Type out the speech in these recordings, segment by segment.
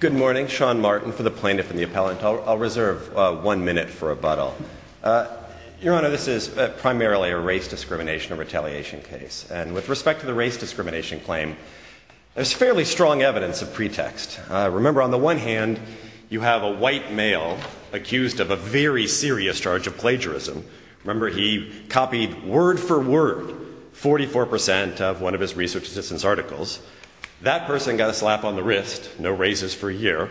Good morning. Sean Martin for the Plaintiff and the Appellant. I'll reserve one minute for rebuttal. Your Honor, this is primarily a race discrimination or retaliation case. And with respect to the race discrimination claim, there's fairly strong evidence of pretext. Remember, on the one hand, you have a white male accused of a very serious charge of plagiarism. Remember, he copied word for word 44 percent of one of his research assistance articles. That person got a slap on the wrist. No raises for a year.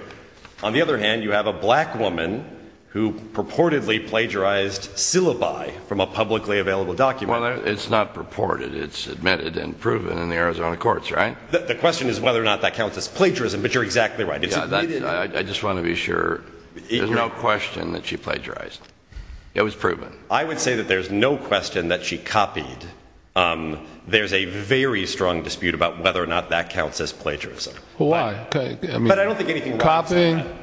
On the other hand, you have a black woman who purportedly plagiarized syllabi from a publicly available document. Well, it's not purported. It's admitted and proven in the Arizona courts, right? The question is whether or not that counts as plagiarism, but you're exactly right. I just want to be sure. There's no question that she plagiarized. It was proven. I would say that there's no question that she copied. There's a very strong dispute about whether or not that counts as plagiarism. But I don't think anything about it is plagiarism.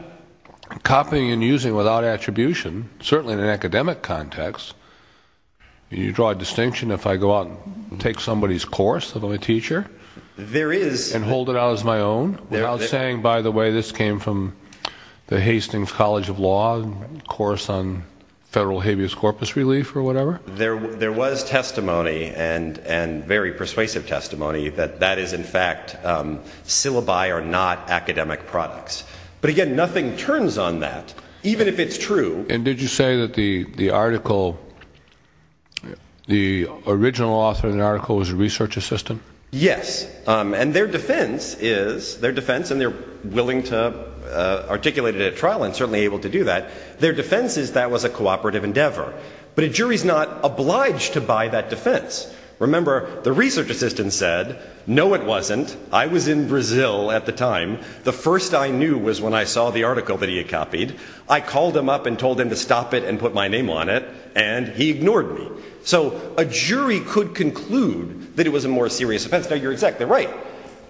Copying and using without attribution, certainly in an academic context, you draw a distinction if I go out and take somebody's course, let alone a teacher, and hold it out as my own, Without saying, by the way, this came from the Hastings College of Law course on federal habeas corpus relief or whatever? There was testimony and very persuasive testimony that that is, in fact, syllabi are not academic products. But again, nothing turns on that, even if it's true. And did you say that the article, the original author of the article was a research assistant? Yes. And their defense is their defense. And they're willing to articulate it at trial and certainly able to do that. Their defense is that was a cooperative endeavor. But a jury is not obliged to buy that defense. Remember, the research assistant said, no, it wasn't. I was in Brazil at the time. The first I knew was when I saw the article that he had copied. I called him up and told him to stop it and put my name on it. And he ignored me. So a jury could conclude that it was a more serious offense. Now, you're exactly right.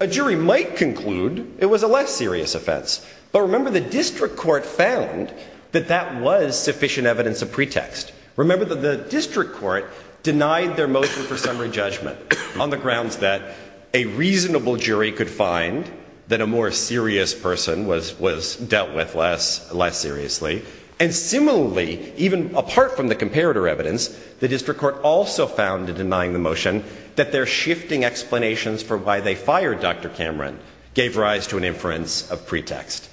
A jury might conclude it was a less serious offense. But remember, the district court found that that was sufficient evidence of pretext. Remember that the district court denied their motion for summary judgment on the grounds that a reasonable jury could find that a more serious person was was dealt with less, less seriously. And similarly, even apart from the comparator evidence, the district court also found in denying the motion that they're shifting explanations for why they fired Dr. Cameron gave rise to an inference of pretext.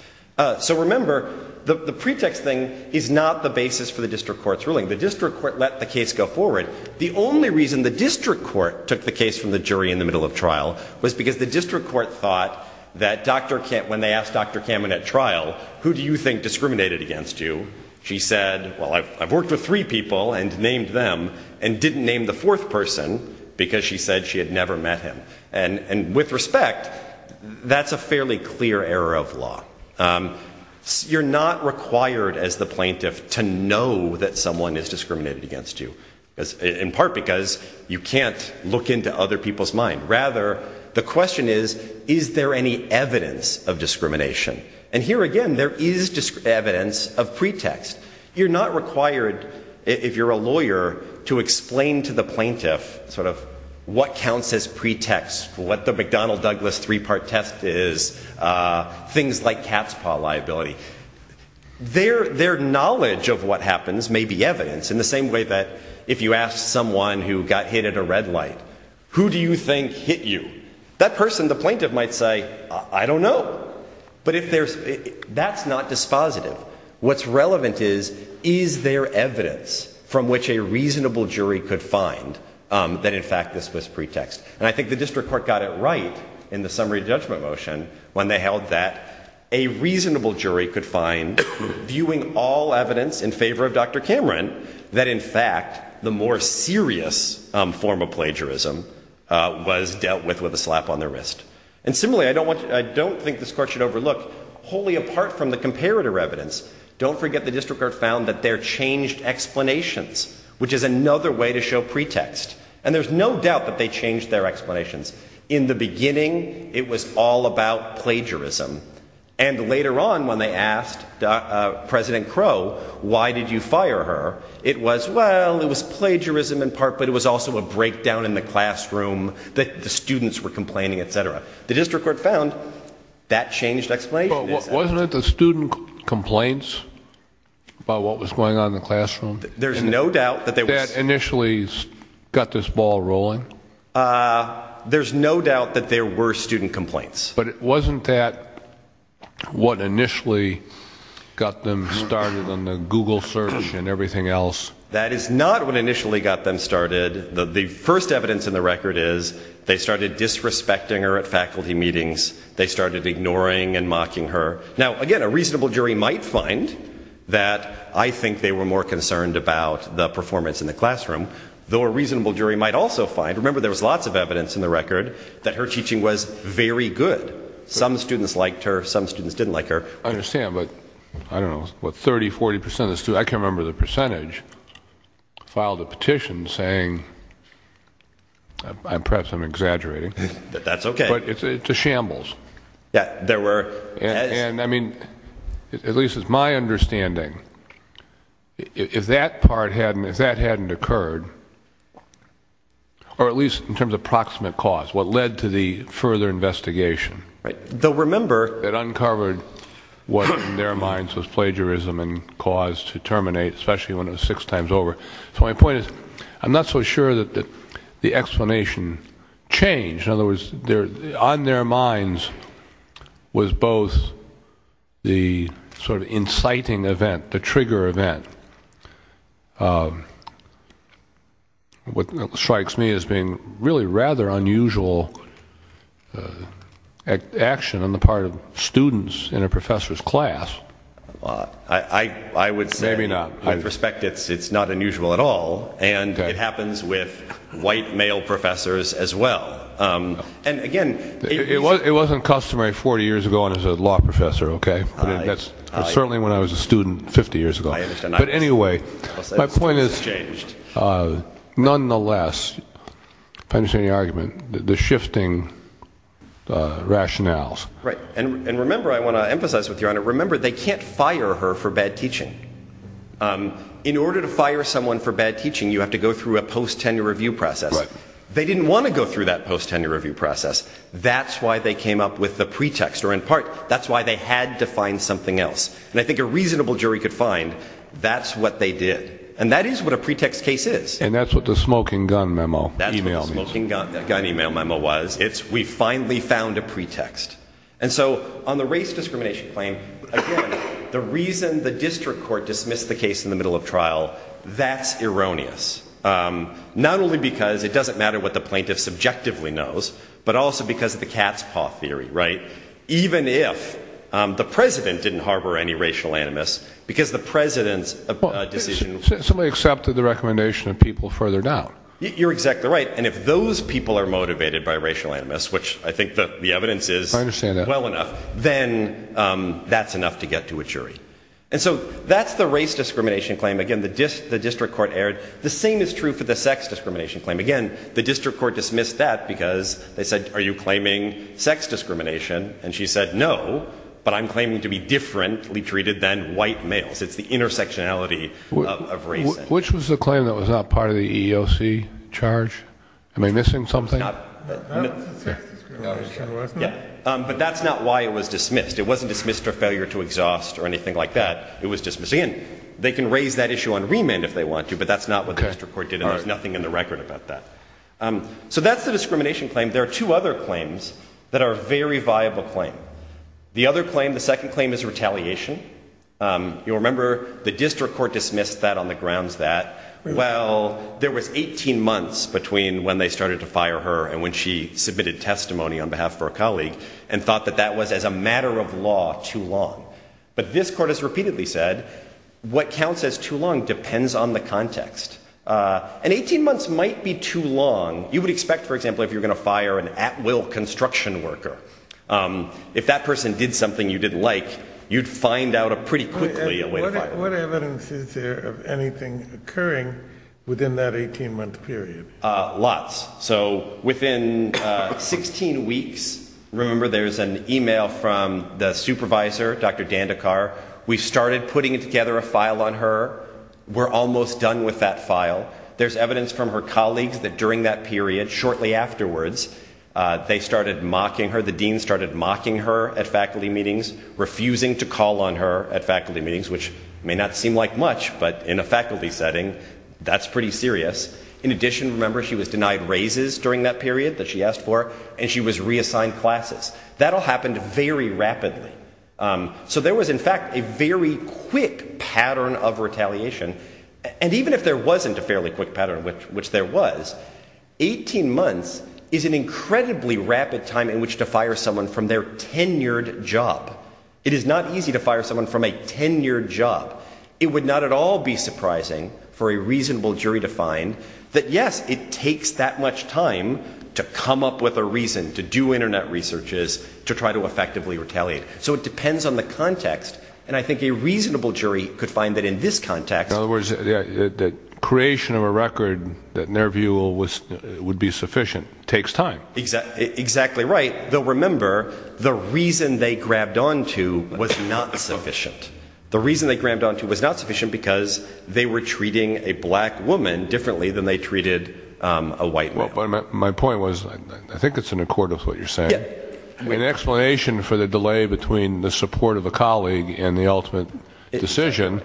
So remember, the pretext thing is not the basis for the district court's ruling. The district court let the case go forward. The only reason the district court took the case from the jury in the middle of trial was because the district court thought that Dr. Cameron at trial, who do you think discriminated against you? She said, well, I've worked with three people and named them and didn't name the fourth person because she said she had never met him. And with respect, that's a fairly clear error of law. You're not required as the plaintiff to know that someone is discriminated against you, in part because you can't look into other people's mind. Rather, the question is, is there any evidence of discrimination? And here again, there is evidence of pretext. You're not required if you're a lawyer to explain to the plaintiff sort of what counts as pretext, what the McDonnell Douglas three part test is, things like cat's paw liability. Their knowledge of what happens may be evidence in the same way that if you ask someone who got hit at a red light, who do you think hit you? That person, the plaintiff might say, I don't know. But if there's that's not dispositive. What's relevant is, is there evidence from which a reasonable jury could find that? In fact, this was pretext. And I think the district court got it right in the summary judgment motion when they held that a reasonable jury could find viewing all evidence in favor of Dr. Cameron, that in fact, the more serious form of plagiarism was dealt with with a slap on the wrist. And similarly, I don't want to I don't think this court should overlook wholly apart from the comparator evidence. Don't forget the district court found that there changed explanations, which is another way to show pretext. And there's no doubt that they changed their explanations in the beginning. It was all about plagiarism. And later on, when they asked President Crow, why did you fire her? It was well, it was plagiarism in part. But it was also a breakdown in the classroom that the students were complaining, et cetera. The district court found that changed. Wasn't it the student complaints about what was going on in the classroom? There's no doubt that they initially got this ball rolling. There's no doubt that there were student complaints. But it wasn't that what initially got them started on the Google search and everything else. That is not what initially got them started. The first evidence in the record is they started disrespecting her at faculty meetings. They started ignoring and mocking her. Now, again, a reasonable jury might find that. I think they were more concerned about the performance in the classroom, though a reasonable jury might also find. Remember, there was lots of evidence in the record that her teaching was very good. Some students liked her. Some students didn't like her. I understand, but I don't know what 30%, 40% of the students, I can't remember the percentage, filed a petition saying, perhaps I'm exaggerating. That's okay. But it's a shambles. Yeah, there were. And I mean, at least it's my understanding, if that part hadn't occurred, or at least in terms of proximate cause, what led to the further investigation. Right. They'll remember. It uncovered what in their minds was plagiarism and cause to terminate, especially when it was six times over. So my point is, I'm not so sure that the explanation changed. In other words, on their minds was both the sort of inciting event, the trigger event. What strikes me as being really rather unusual action on the part of students in a professor's class. I would say. Maybe not. With respect, it's not unusual at all. And it happens with white male professors as well. And again. It wasn't customary 40 years ago, and as a law professor, okay. That's certainly when I was a student 50 years ago. But anyway, my point is, nonetheless, if I understand your argument, the shifting rationales. Right. And remember, I want to emphasize with your honor, remember they can't fire her for bad teaching. In order to fire someone for bad teaching, you have to go through a post-tenure review process. They didn't want to go through that post-tenure review process. That's why they came up with the pretext, or in part, that's why they had to find something else. And I think a reasonable jury could find that's what they did. And that is what a pretext case is. And that's what the smoking gun memo. That's what the smoking gun email memo was. It's we finally found a pretext. And so on the race discrimination claim, again, the reason the district court dismissed the case in the middle of trial, that's erroneous. Not only because it doesn't matter what the plaintiff subjectively knows, but also because of the cat's paw theory. Even if the president didn't harbor any racial animus, because the president's decision Somebody accepted the recommendation of people further down. You're exactly right. And if those people are motivated by racial animus, which I think the evidence is well enough, then that's enough to get to a jury. And so that's the race discrimination claim. Again, the district court erred. The same is true for the sex discrimination claim. Again, the district court dismissed that because they said are you claiming sex discrimination? And she said no, but I'm claiming to be differently treated than white males. It's the intersectionality of race. Which was the claim that was not part of the EEOC charge? Am I missing something? No. But that's not why it was dismissed. It wasn't dismissed for failure to exhaust or anything like that. It was dismissed. Again, they can raise that issue on remand if they want to, but that's not what the district court did. And there's nothing in the record about that. So that's the discrimination claim. There are two other claims that are a very viable claim. The other claim, the second claim, is retaliation. You'll remember the district court dismissed that on the grounds that, well, there was 18 months between when they started to fire her and when she submitted testimony on behalf of her colleague and thought that that was as a matter of law too long. But this court has repeatedly said what counts as too long depends on the context. And 18 months might be too long. You would expect, for example, if you're going to fire an at-will construction worker, if that person did something you didn't like, you'd find out pretty quickly a way to fire them. What evidence is there of anything occurring within that 18-month period? Lots. So within 16 weeks, remember, there's an e-mail from the supervisor, Dr. Dandekar. We started putting together a file on her. We're almost done with that file. There's evidence from her colleagues that during that period, shortly afterwards, they started mocking her, the dean started mocking her at faculty meetings, refusing to call on her at faculty meetings, which may not seem like much, but in a faculty setting, that's pretty serious. In addition, remember, she was denied raises during that period that she asked for, and she was reassigned classes. That all happened very rapidly. So there was, in fact, a very quick pattern of retaliation. And even if there wasn't a fairly quick pattern, which there was, 18 months is an incredibly rapid time in which to fire someone from their tenured job. It is not easy to fire someone from a tenured job. It would not at all be surprising for a reasonable jury to find that, yes, it takes that much time to come up with a reason to do Internet researches, to try to effectively retaliate. So it depends on the context. And I think a reasonable jury could find that in this context. In other words, the creation of a record that in their view would be sufficient takes time. Exactly right. Though, remember, the reason they grabbed onto was not sufficient. The reason they grabbed onto was not sufficient because they were treating a black woman differently than they treated a white man. My point was, I think it's in accord with what you're saying. An explanation for the delay between the support of a colleague and the ultimate decision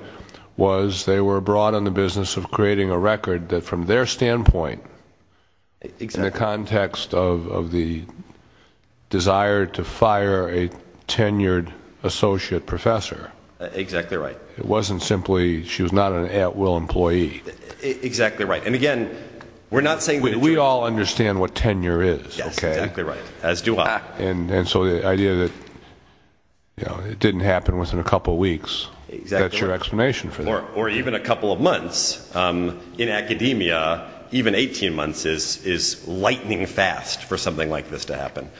was they were abroad in the business of creating a record that from their standpoint, in the context of the desire to fire a tenured associate professor. Exactly right. It wasn't simply she was not an at-will employee. Exactly right. And again, we're not saying that a jury We all understand what tenure is. Yes, exactly right. As do I. And so the idea that it didn't happen within a couple weeks, that's your explanation for that. Or even a couple of months. In academia, even 18 months is lightning fast for something like this to happen.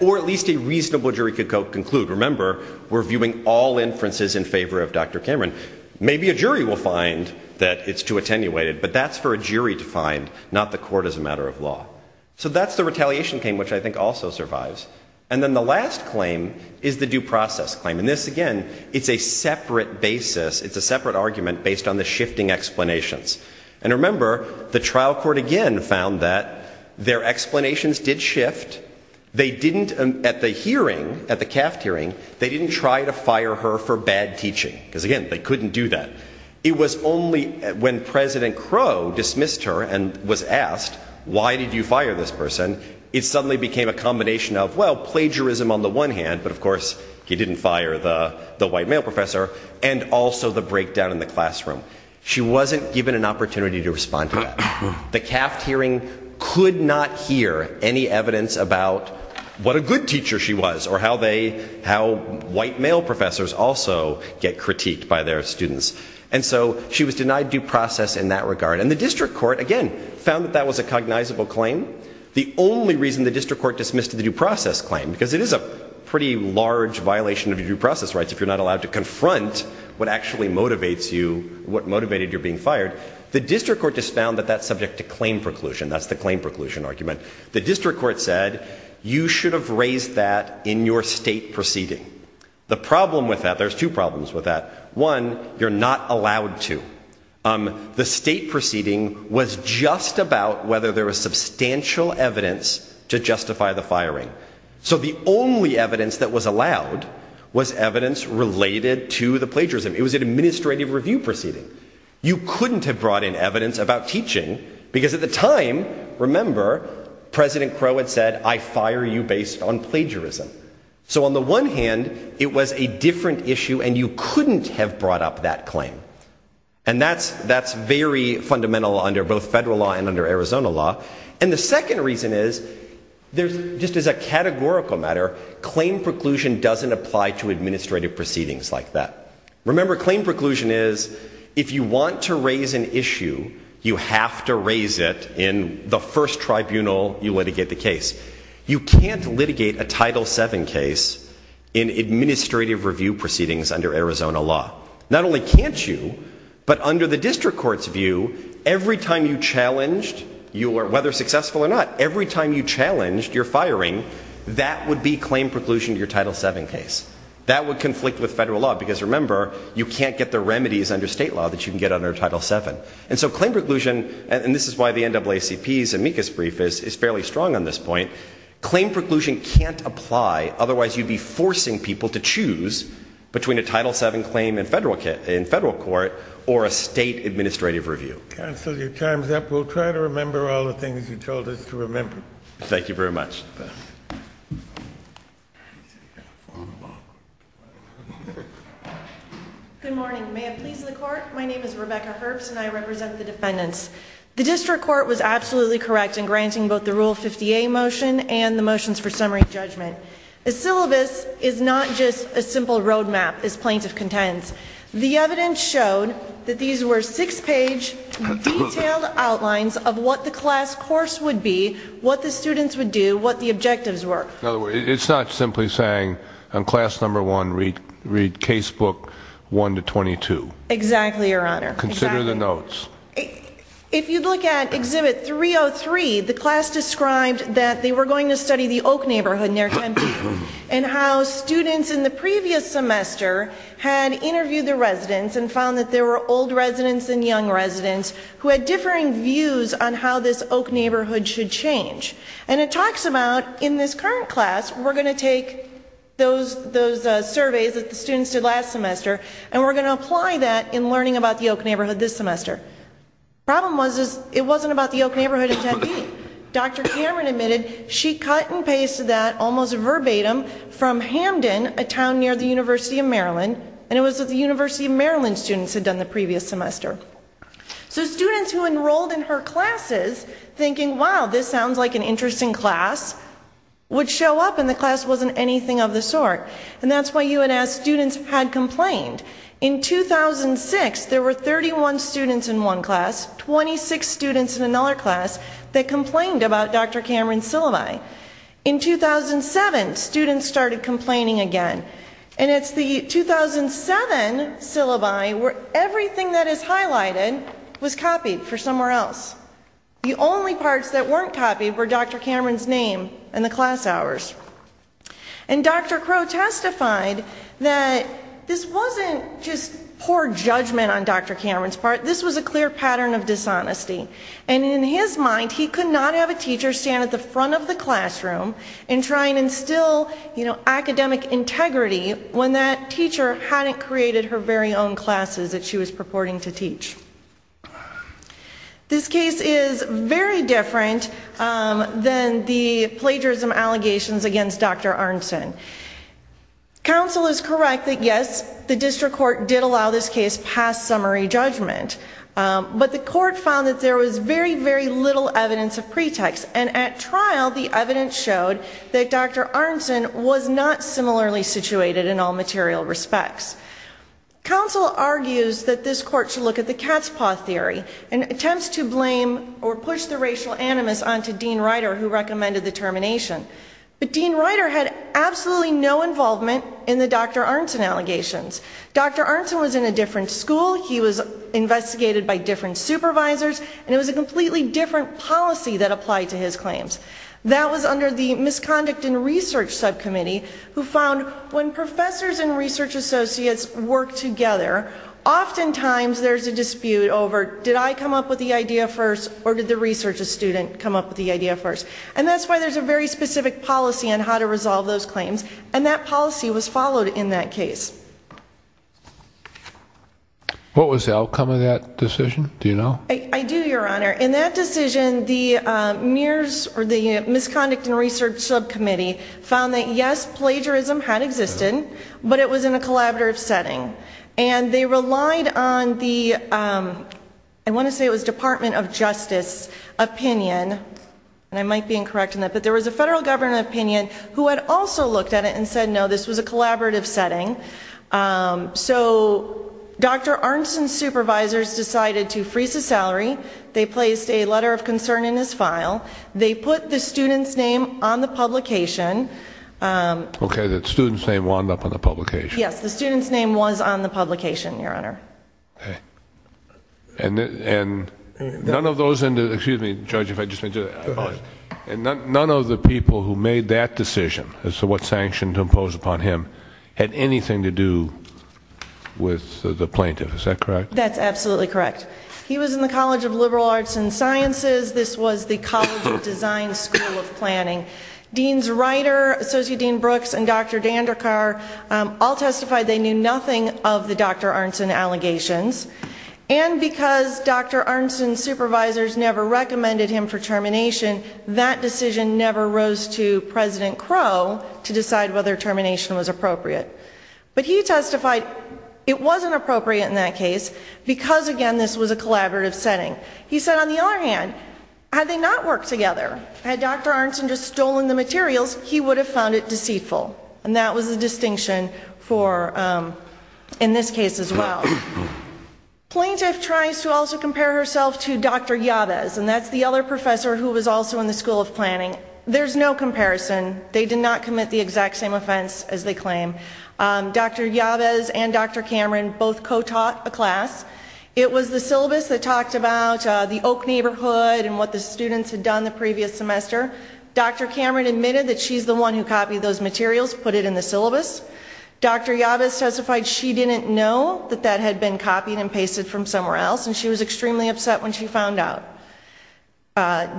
Or at least a reasonable jury could conclude. Remember, we're viewing all inferences in favor of Dr. Cameron. Maybe a jury will find that it's too attenuated, but that's for a jury to find, not the court as a matter of law. So that's the retaliation claim, which I think also survives. And then the last claim is the due process claim. And this, again, it's a separate basis. It's a separate argument based on the shifting explanations. And remember, the trial court again found that their explanations did shift. They didn't, at the hearing, at the CAFT hearing, they didn't try to fire her for bad teaching. Because again, they couldn't do that. It was only when President Crow dismissed her and was asked, why did you fire this person? It suddenly became a combination of, well, plagiarism on the one hand. But of course, he didn't fire the white male professor, and also the breakdown in the classroom. She wasn't given an opportunity to respond to that. The CAFT hearing could not hear any evidence about what a good teacher she was or how white male professors also get critiqued by their students. And so she was denied due process in that regard. And the district court, again, found that that was a cognizable claim. The only reason the district court dismissed the due process claim, because it is a pretty large violation of your due process rights if you're not allowed to confront what actually motivates you, what motivated your being fired, the district court just found that that's subject to claim preclusion. That's the claim preclusion argument. The district court said, you should have raised that in your state proceeding. The problem with that, there's two problems with that. One, you're not allowed to. The state proceeding was just about whether there was substantial evidence to justify the firing. So the only evidence that was allowed was evidence related to the plagiarism. It was an administrative review proceeding. You couldn't have brought in evidence about teaching, because at the time, remember, President Crow had said, I fire you based on plagiarism. So on the one hand, it was a different issue, and you couldn't have brought up that claim. And that's very fundamental under both federal law and under Arizona law. And the second reason is, just as a categorical matter, claim preclusion doesn't apply to administrative proceedings like that. Remember, claim preclusion is, if you want to raise an issue, you have to raise it in the first tribunal you litigate the case. You can't litigate a Title VII case in administrative review proceedings under Arizona law. Not only can't you, but under the district court's view, every time you challenged, whether successful or not, every time you challenged your firing, that would be claim preclusion to your Title VII case. That would conflict with federal law, because remember, you can't get the remedies under state law that you can get under Title VII. And so claim preclusion, and this is why the NAACP's amicus brief is fairly strong on this point, claim preclusion can't apply, otherwise you'd be forcing people to choose between a Title VII claim in federal court or a state administrative review. Counsel, your time's up. We'll try to remember all the things you told us to remember. Thank you very much. Good morning. May it please the court, my name is Rebecca Herbst and I represent the defendants. The district court was absolutely correct in granting both the Rule 50A motion and the motions for summary judgment. A syllabus is not just a simple road map, as plaintiff contends. The evidence showed that these were six-page, detailed outlines of what the class course would be, what the students would do, what the objectives were. In other words, it's not simply saying, class number one, read case book one to twenty-two. Exactly, your honor. Consider the notes. If you look at Exhibit 303, the class described that they were going to study the Oak neighborhood in their temple, and how students in the previous semester had interviewed the residents and found that there were old residents and young residents who had differing views on how this Oak neighborhood should change. And it talks about, in this current class, we're going to take those surveys that the students did last semester and we're going to apply that in learning about the Oak neighborhood this semester. Problem was, it wasn't about the Oak neighborhood in Tempe. Dr. Cameron admitted she cut and pasted that, almost verbatim, from Hamden, a town near the University of Maryland, and it was at the University of Maryland students had done the previous semester. So students who enrolled in her classes, thinking, wow, this sounds like an interesting class, would show up and the class wasn't anything of the sort. And that's why UNS students had complained. In 2006, there were 31 students in one class, 26 students in another class, that complained about Dr. Cameron's syllabi. In 2007, students started complaining again. And it's the 2007 syllabi where everything that is highlighted was copied for somewhere else. The only parts that weren't copied were Dr. Cameron's name and the class hours. And Dr. Crow testified that this wasn't just poor judgment on Dr. Cameron's part. This was a clear pattern of dishonesty. And in his mind, he could not have a teacher stand at the front of the classroom and try and instill academic integrity when that teacher hadn't created her very own classes that she was purporting to teach. This case is very different than the plagiarism allegations against Dr. Arnson. Counsel is correct that, yes, the district court did allow this case past summary judgment. But the court found that there was very, very little evidence of pretext. And at trial, the evidence showed that Dr. Arnson was not similarly situated in all material respects. Counsel argues that this court should look at the cat's paw theory and attempts to blame or push the racial animus onto Dean Ryder, who recommended the termination. But Dean Ryder had absolutely no involvement in the Dr. Arnson allegations. Dr. Arnson was in a different school. He was investigated by different supervisors. And it was a completely different policy that applied to his claims. That was under the Misconduct and Research Subcommittee, who found when professors and research associates work together, oftentimes there's a dispute over, did I come up with the idea first or did the research student come up with the idea first? And that's why there's a very specific policy on how to resolve those claims. And that policy was followed in that case. What was the outcome of that decision? Do you know? I do, Your Honor. In that decision, the Misconduct and Research Subcommittee found that, yes, plagiarism had existed, but it was in a collaborative setting. And they relied on the, I want to say it was Department of Justice opinion, and I might be incorrect in that, but there was a federal government opinion who had also looked at it and said, no, this was a collaborative setting. So Dr. Arnson's supervisors decided to freeze the salary. They placed a letter of concern in his file. They put the student's name on the publication. Okay, the student's name wound up on the publication. Yes, the student's name was on the publication, Your Honor. Okay. And none of those, excuse me, Judge, if I just may do that, none of the people who made that decision as to what sanction to impose upon him had anything to do with the plaintiff, is that correct? That's absolutely correct. He was in the College of Liberal Arts and Sciences. This was the College of Design School of Planning. Dean's writer, Associate Dean Brooks and Dr. Dandekar, all testified they knew nothing of the Dr. Arnson allegations. And because Dr. Arnson's supervisors never recommended him for termination, that decision never rose to President Crow to decide whether termination was appropriate. But he testified it wasn't appropriate in that case because, again, this was a collaborative setting. He said, on the other hand, had they not worked together, had Dr. Arnson just stolen the materials, he would have found it deceitful. And that was the distinction in this case as well. The plaintiff tries to also compare herself to Dr. Yavez, and that's the other professor who was also in the School of Planning. There's no comparison. They did not commit the exact same offense as they claim. Dr. Yavez and Dr. Cameron both co-taught a class. It was the syllabus that talked about the Oak neighborhood and what the students had done the previous semester. Dr. Cameron admitted that she's the one who copied those materials, put it in the syllabus. Dr. Yavez testified she didn't know that that had been copied and pasted from somewhere else, and she was extremely upset when she found out.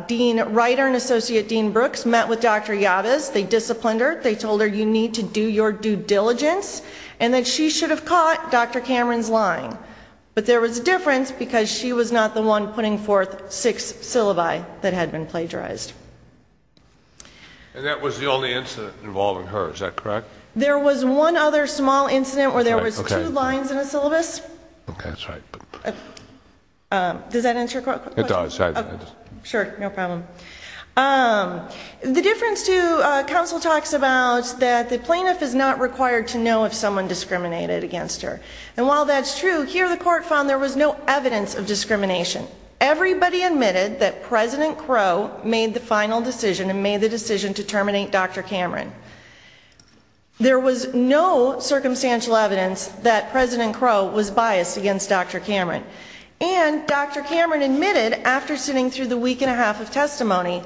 Dean's writer and Associate Dean Brooks met with Dr. Yavez. They disciplined her. They told her you need to do your due diligence, and that she should have caught Dr. Cameron's lying. But there was a difference because she was not the one putting forth six syllabi that had been plagiarized. And that was the only incident involving her, is that correct? There was one other small incident where there was two lines in a syllabus. Okay, that's right. Does that answer your question? It does. Sure, no problem. The difference, too, counsel talks about that the plaintiff is not required to know if someone discriminated against her. And while that's true, here the court found there was no evidence of discrimination. Everybody admitted that President Crow made the final decision and made the decision to terminate Dr. Cameron. There was no circumstantial evidence that President Crow was biased against Dr. Cameron. And Dr. Cameron admitted after sitting through the week and a half of testimony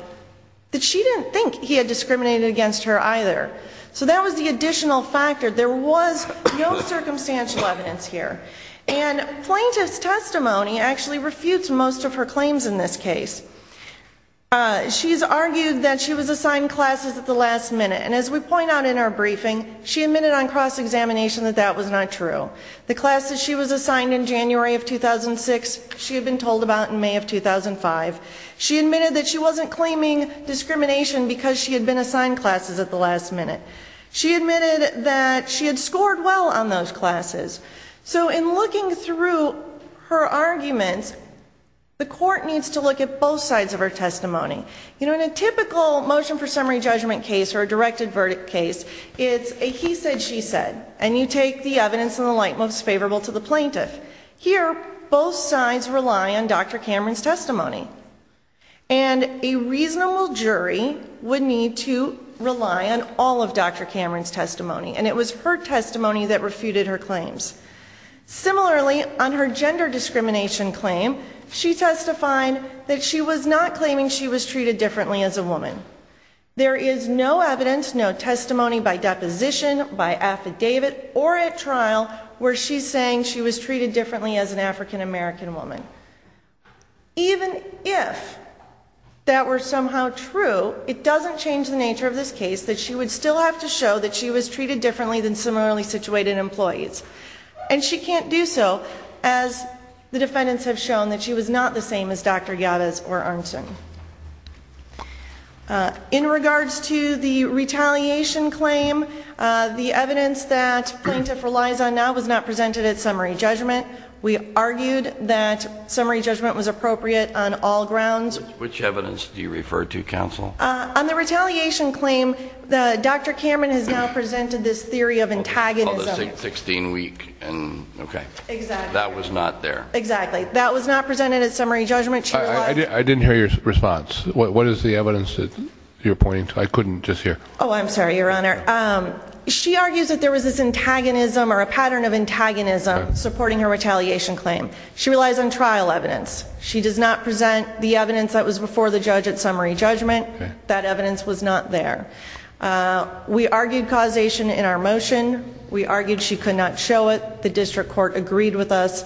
that she didn't think he had discriminated against her either. So that was the additional factor. There was no circumstantial evidence here. And plaintiff's testimony actually refutes most of her claims in this case. She's argued that she was assigned classes at the last minute. And as we point out in our briefing, she admitted on cross-examination that that was not true. The classes she was assigned in January of 2006 she had been told about in May of 2005. She admitted that she wasn't claiming discrimination because she had been assigned classes at the last minute. She admitted that she had scored well on those classes. So in looking through her arguments, the court needs to look at both sides of her testimony. You know, in a typical motion for summary judgment case or a directed verdict case, it's a he said, she said. And you take the evidence in the light most favorable to the plaintiff. Here, both sides rely on Dr. Cameron's testimony. And a reasonable jury would need to rely on all of Dr. Cameron's testimony. And it was her testimony that refuted her claims. Similarly, on her gender discrimination claim, she testified that she was not claiming she was treated differently as a woman. There is no evidence, no testimony by deposition, by affidavit or at trial where she's saying she was treated differently as an African-American woman. Even if that were somehow true, it doesn't change the nature of this case that she would still have to show that she was treated differently than similarly situated employees. And she can't do so as the defendants have shown that she was not the same as Dr. Yadiz or Arnson. In regards to the retaliation claim, the evidence that plaintiff relies on now was not presented at summary judgment. We argued that summary judgment was appropriate on all grounds. Which evidence do you refer to, counsel? On the retaliation claim, Dr. Cameron has now presented this theory of antagonism. It's called the 16-week. Okay. That was not there. Exactly. That was not presented at summary judgment. I didn't hear your response. What is the evidence that you're pointing to? I couldn't just hear. Oh, I'm sorry, Your Honor. She argues that there was this antagonism or a pattern of antagonism supporting her retaliation claim. She relies on trial evidence. She does not present the evidence that was before the judge at summary judgment. That evidence was not there. We argued causation in our motion. We argued she could not show it. The district court agreed with us.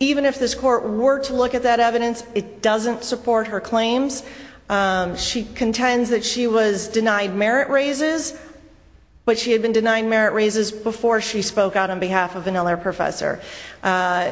Even if this court were to look at that evidence, it doesn't support her claims. She contends that she was denied merit raises, but she had been denied merit raises before she spoke out on behalf of another professor.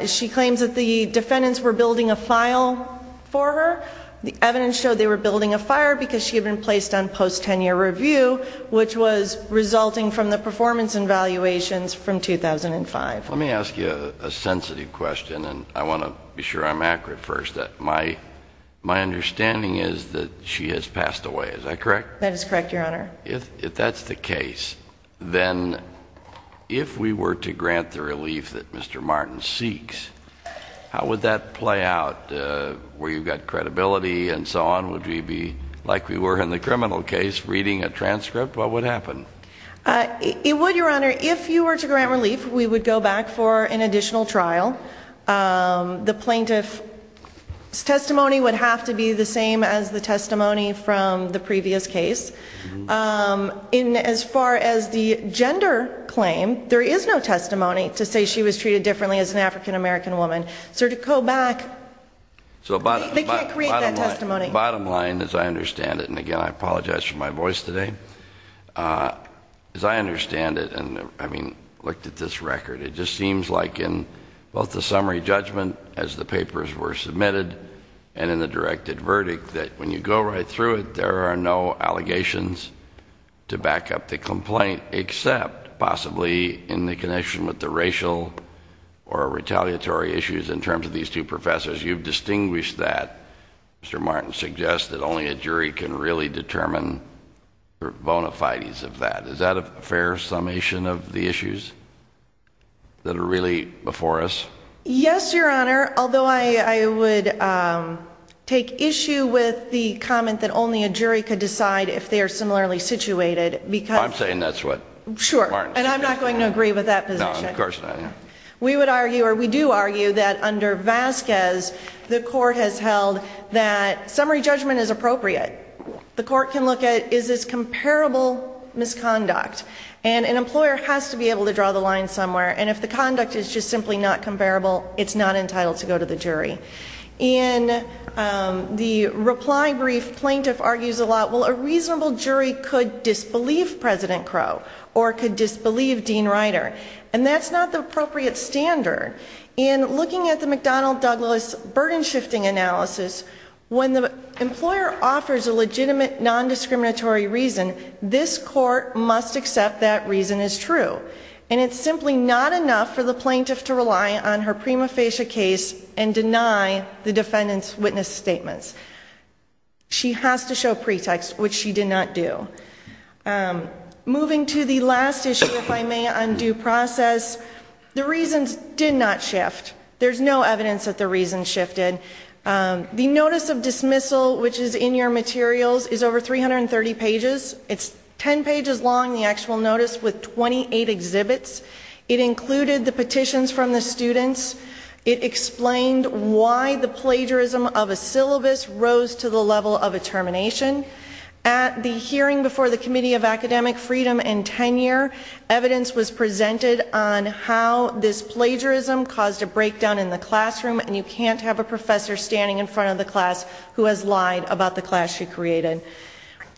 She claims that the defendants were building a file for her. The evidence showed they were building a file because she had been placed on post-tenure review, which was resulting from the performance evaluations from 2005. Let me ask you a sensitive question, and I want to be sure I'm accurate first. My understanding is that she has passed away. Is that correct? That is correct, Your Honor. If that's the case, then if we were to grant the relief that Mr. Martin seeks, how would that play out? Where you've got credibility and so on, would we be like we were in the criminal case, reading a transcript? What would happen? It would, Your Honor. If you were to grant relief, we would go back for an additional trial. The plaintiff's testimony would have to be the same as the testimony from the previous case. As far as the gender claim, there is no testimony to say she was treated differently as an African-American woman. So to go back, they can't create that testimony. Bottom line, as I understand it, and again, I apologize for my voice today. As I understand it, and having looked at this record, it just seems like in both the summary judgment as the papers were submitted and in the directed verdict that when you go right through it, there are no allegations to back up the complaint, except possibly in the connection with the racial or retaliatory issues in terms of these two professors. You've distinguished that. Mr. Martin suggests that only a jury can really determine the bona fides of that. Is that a fair summation of the issues that are really before us? Yes, Your Honor, although I would take issue with the comment that only a jury could decide if they are similarly situated. I'm saying that's what Mr. Martin suggests. Sure, and I'm not going to agree with that position. No, of course not. We would argue, or we do argue, that under Vasquez, the court has held that summary judgment is appropriate. The court can look at is this comparable misconduct, and an employer has to be able to draw the line somewhere, and if the conduct is just simply not comparable, it's not entitled to go to the jury. In the reply brief, plaintiff argues a lot, well, a reasonable jury could disbelieve President Crow or could disbelieve Dean Ryder, and that's not the appropriate standard. In looking at the McDonnell-Douglas burden shifting analysis, when the employer offers a legitimate nondiscriminatory reason, this court must accept that reason is true, and it's simply not enough for the plaintiff to rely on her prima facie case and deny the defendant's witness statements. She has to show pretext, which she did not do. Moving to the last issue, if I may, on due process. The reasons did not shift. There's no evidence that the reasons shifted. The notice of dismissal, which is in your materials, is over 330 pages. It's 10 pages long, the actual notice, with 28 exhibits. It included the petitions from the students. It explained why the plagiarism of a syllabus rose to the level of a termination. At the hearing before the Committee of Academic Freedom in tenure, evidence was presented on how this plagiarism caused a breakdown in the classroom, and you can't have a professor standing in front of the class who has lied about the class she created.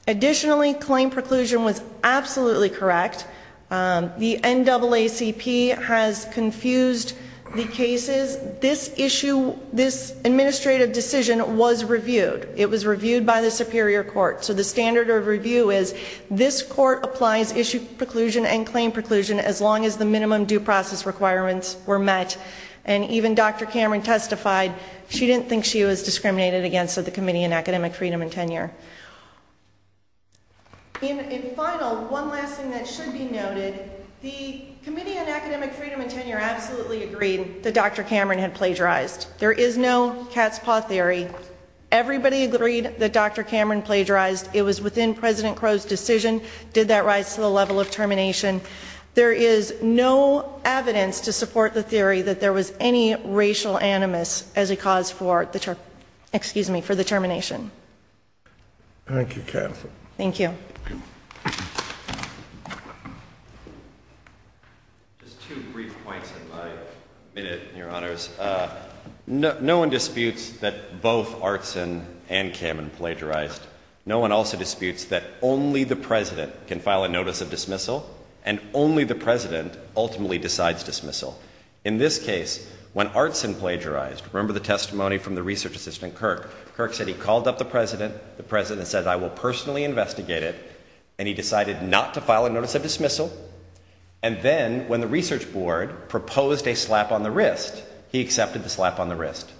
Additionally, claim preclusion was absolutely correct. The NAACP has confused the cases. This issue, this administrative decision was reviewed. It was reviewed by the superior court. So the standard of review is this court applies issue preclusion and claim preclusion as long as the minimum due process requirements were met. And even Dr. Cameron testified she didn't think she was discriminated against at the Committee of Academic Freedom in tenure. In final, one last thing that should be noted, the Committee of Academic Freedom in tenure absolutely agreed that Dr. Cameron had plagiarized. There is no cat's paw theory. Everybody agreed that Dr. Cameron plagiarized. It was within President Crow's decision. Did that rise to the level of termination? There is no evidence to support the theory that there was any racial animus as a cause for the termination. Thank you, Catherine. Thank you. Just two brief points in my minute, Your Honors. No one disputes that both Artson and Cameron plagiarized. No one also disputes that only the President can file a notice of dismissal and only the President ultimately decides dismissal. In this case, when Artson plagiarized, remember the testimony from the research assistant Kirk, Kirk said he called up the President, the President said I will personally investigate it, and he decided not to file a notice of dismissal, and then when the research board proposed a slap on the wrist, he accepted the slap on the wrist.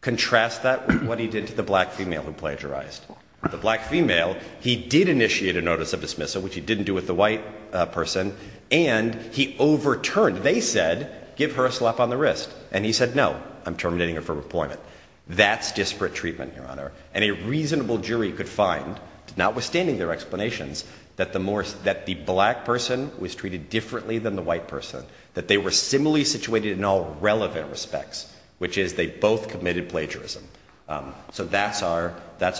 Contrast that with what he did to the black female who plagiarized. The black female, he did initiate a notice of dismissal, which he didn't do with the white person, and he overturned, they said, give her a slap on the wrist, and he said no, I'm terminating her from employment. That's disparate treatment, Your Honor. And a reasonable jury could find, notwithstanding their explanations, that the black person was treated differently than the white person, that they were similarly situated in all relevant respects, which is they both committed plagiarism. So that's our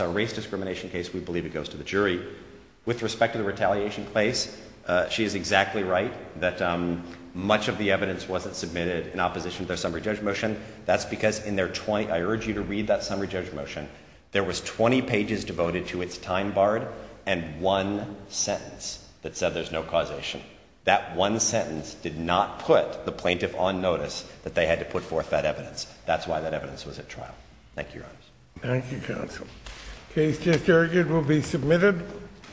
race discrimination case, we believe it goes to the jury. With respect to the retaliation case, she is exactly right, that much of the evidence wasn't submitted in opposition to their summary judge motion. That's because in their 20, I urge you to read that summary judge motion, there was 20 pages devoted to its time barred, and one sentence that said there's no causation. That one sentence did not put the plaintiff on notice that they had to put forth that evidence. That's why that evidence was at trial. Thank you, Your Honors. Thank you, Counsel. Case just argued will be submitted.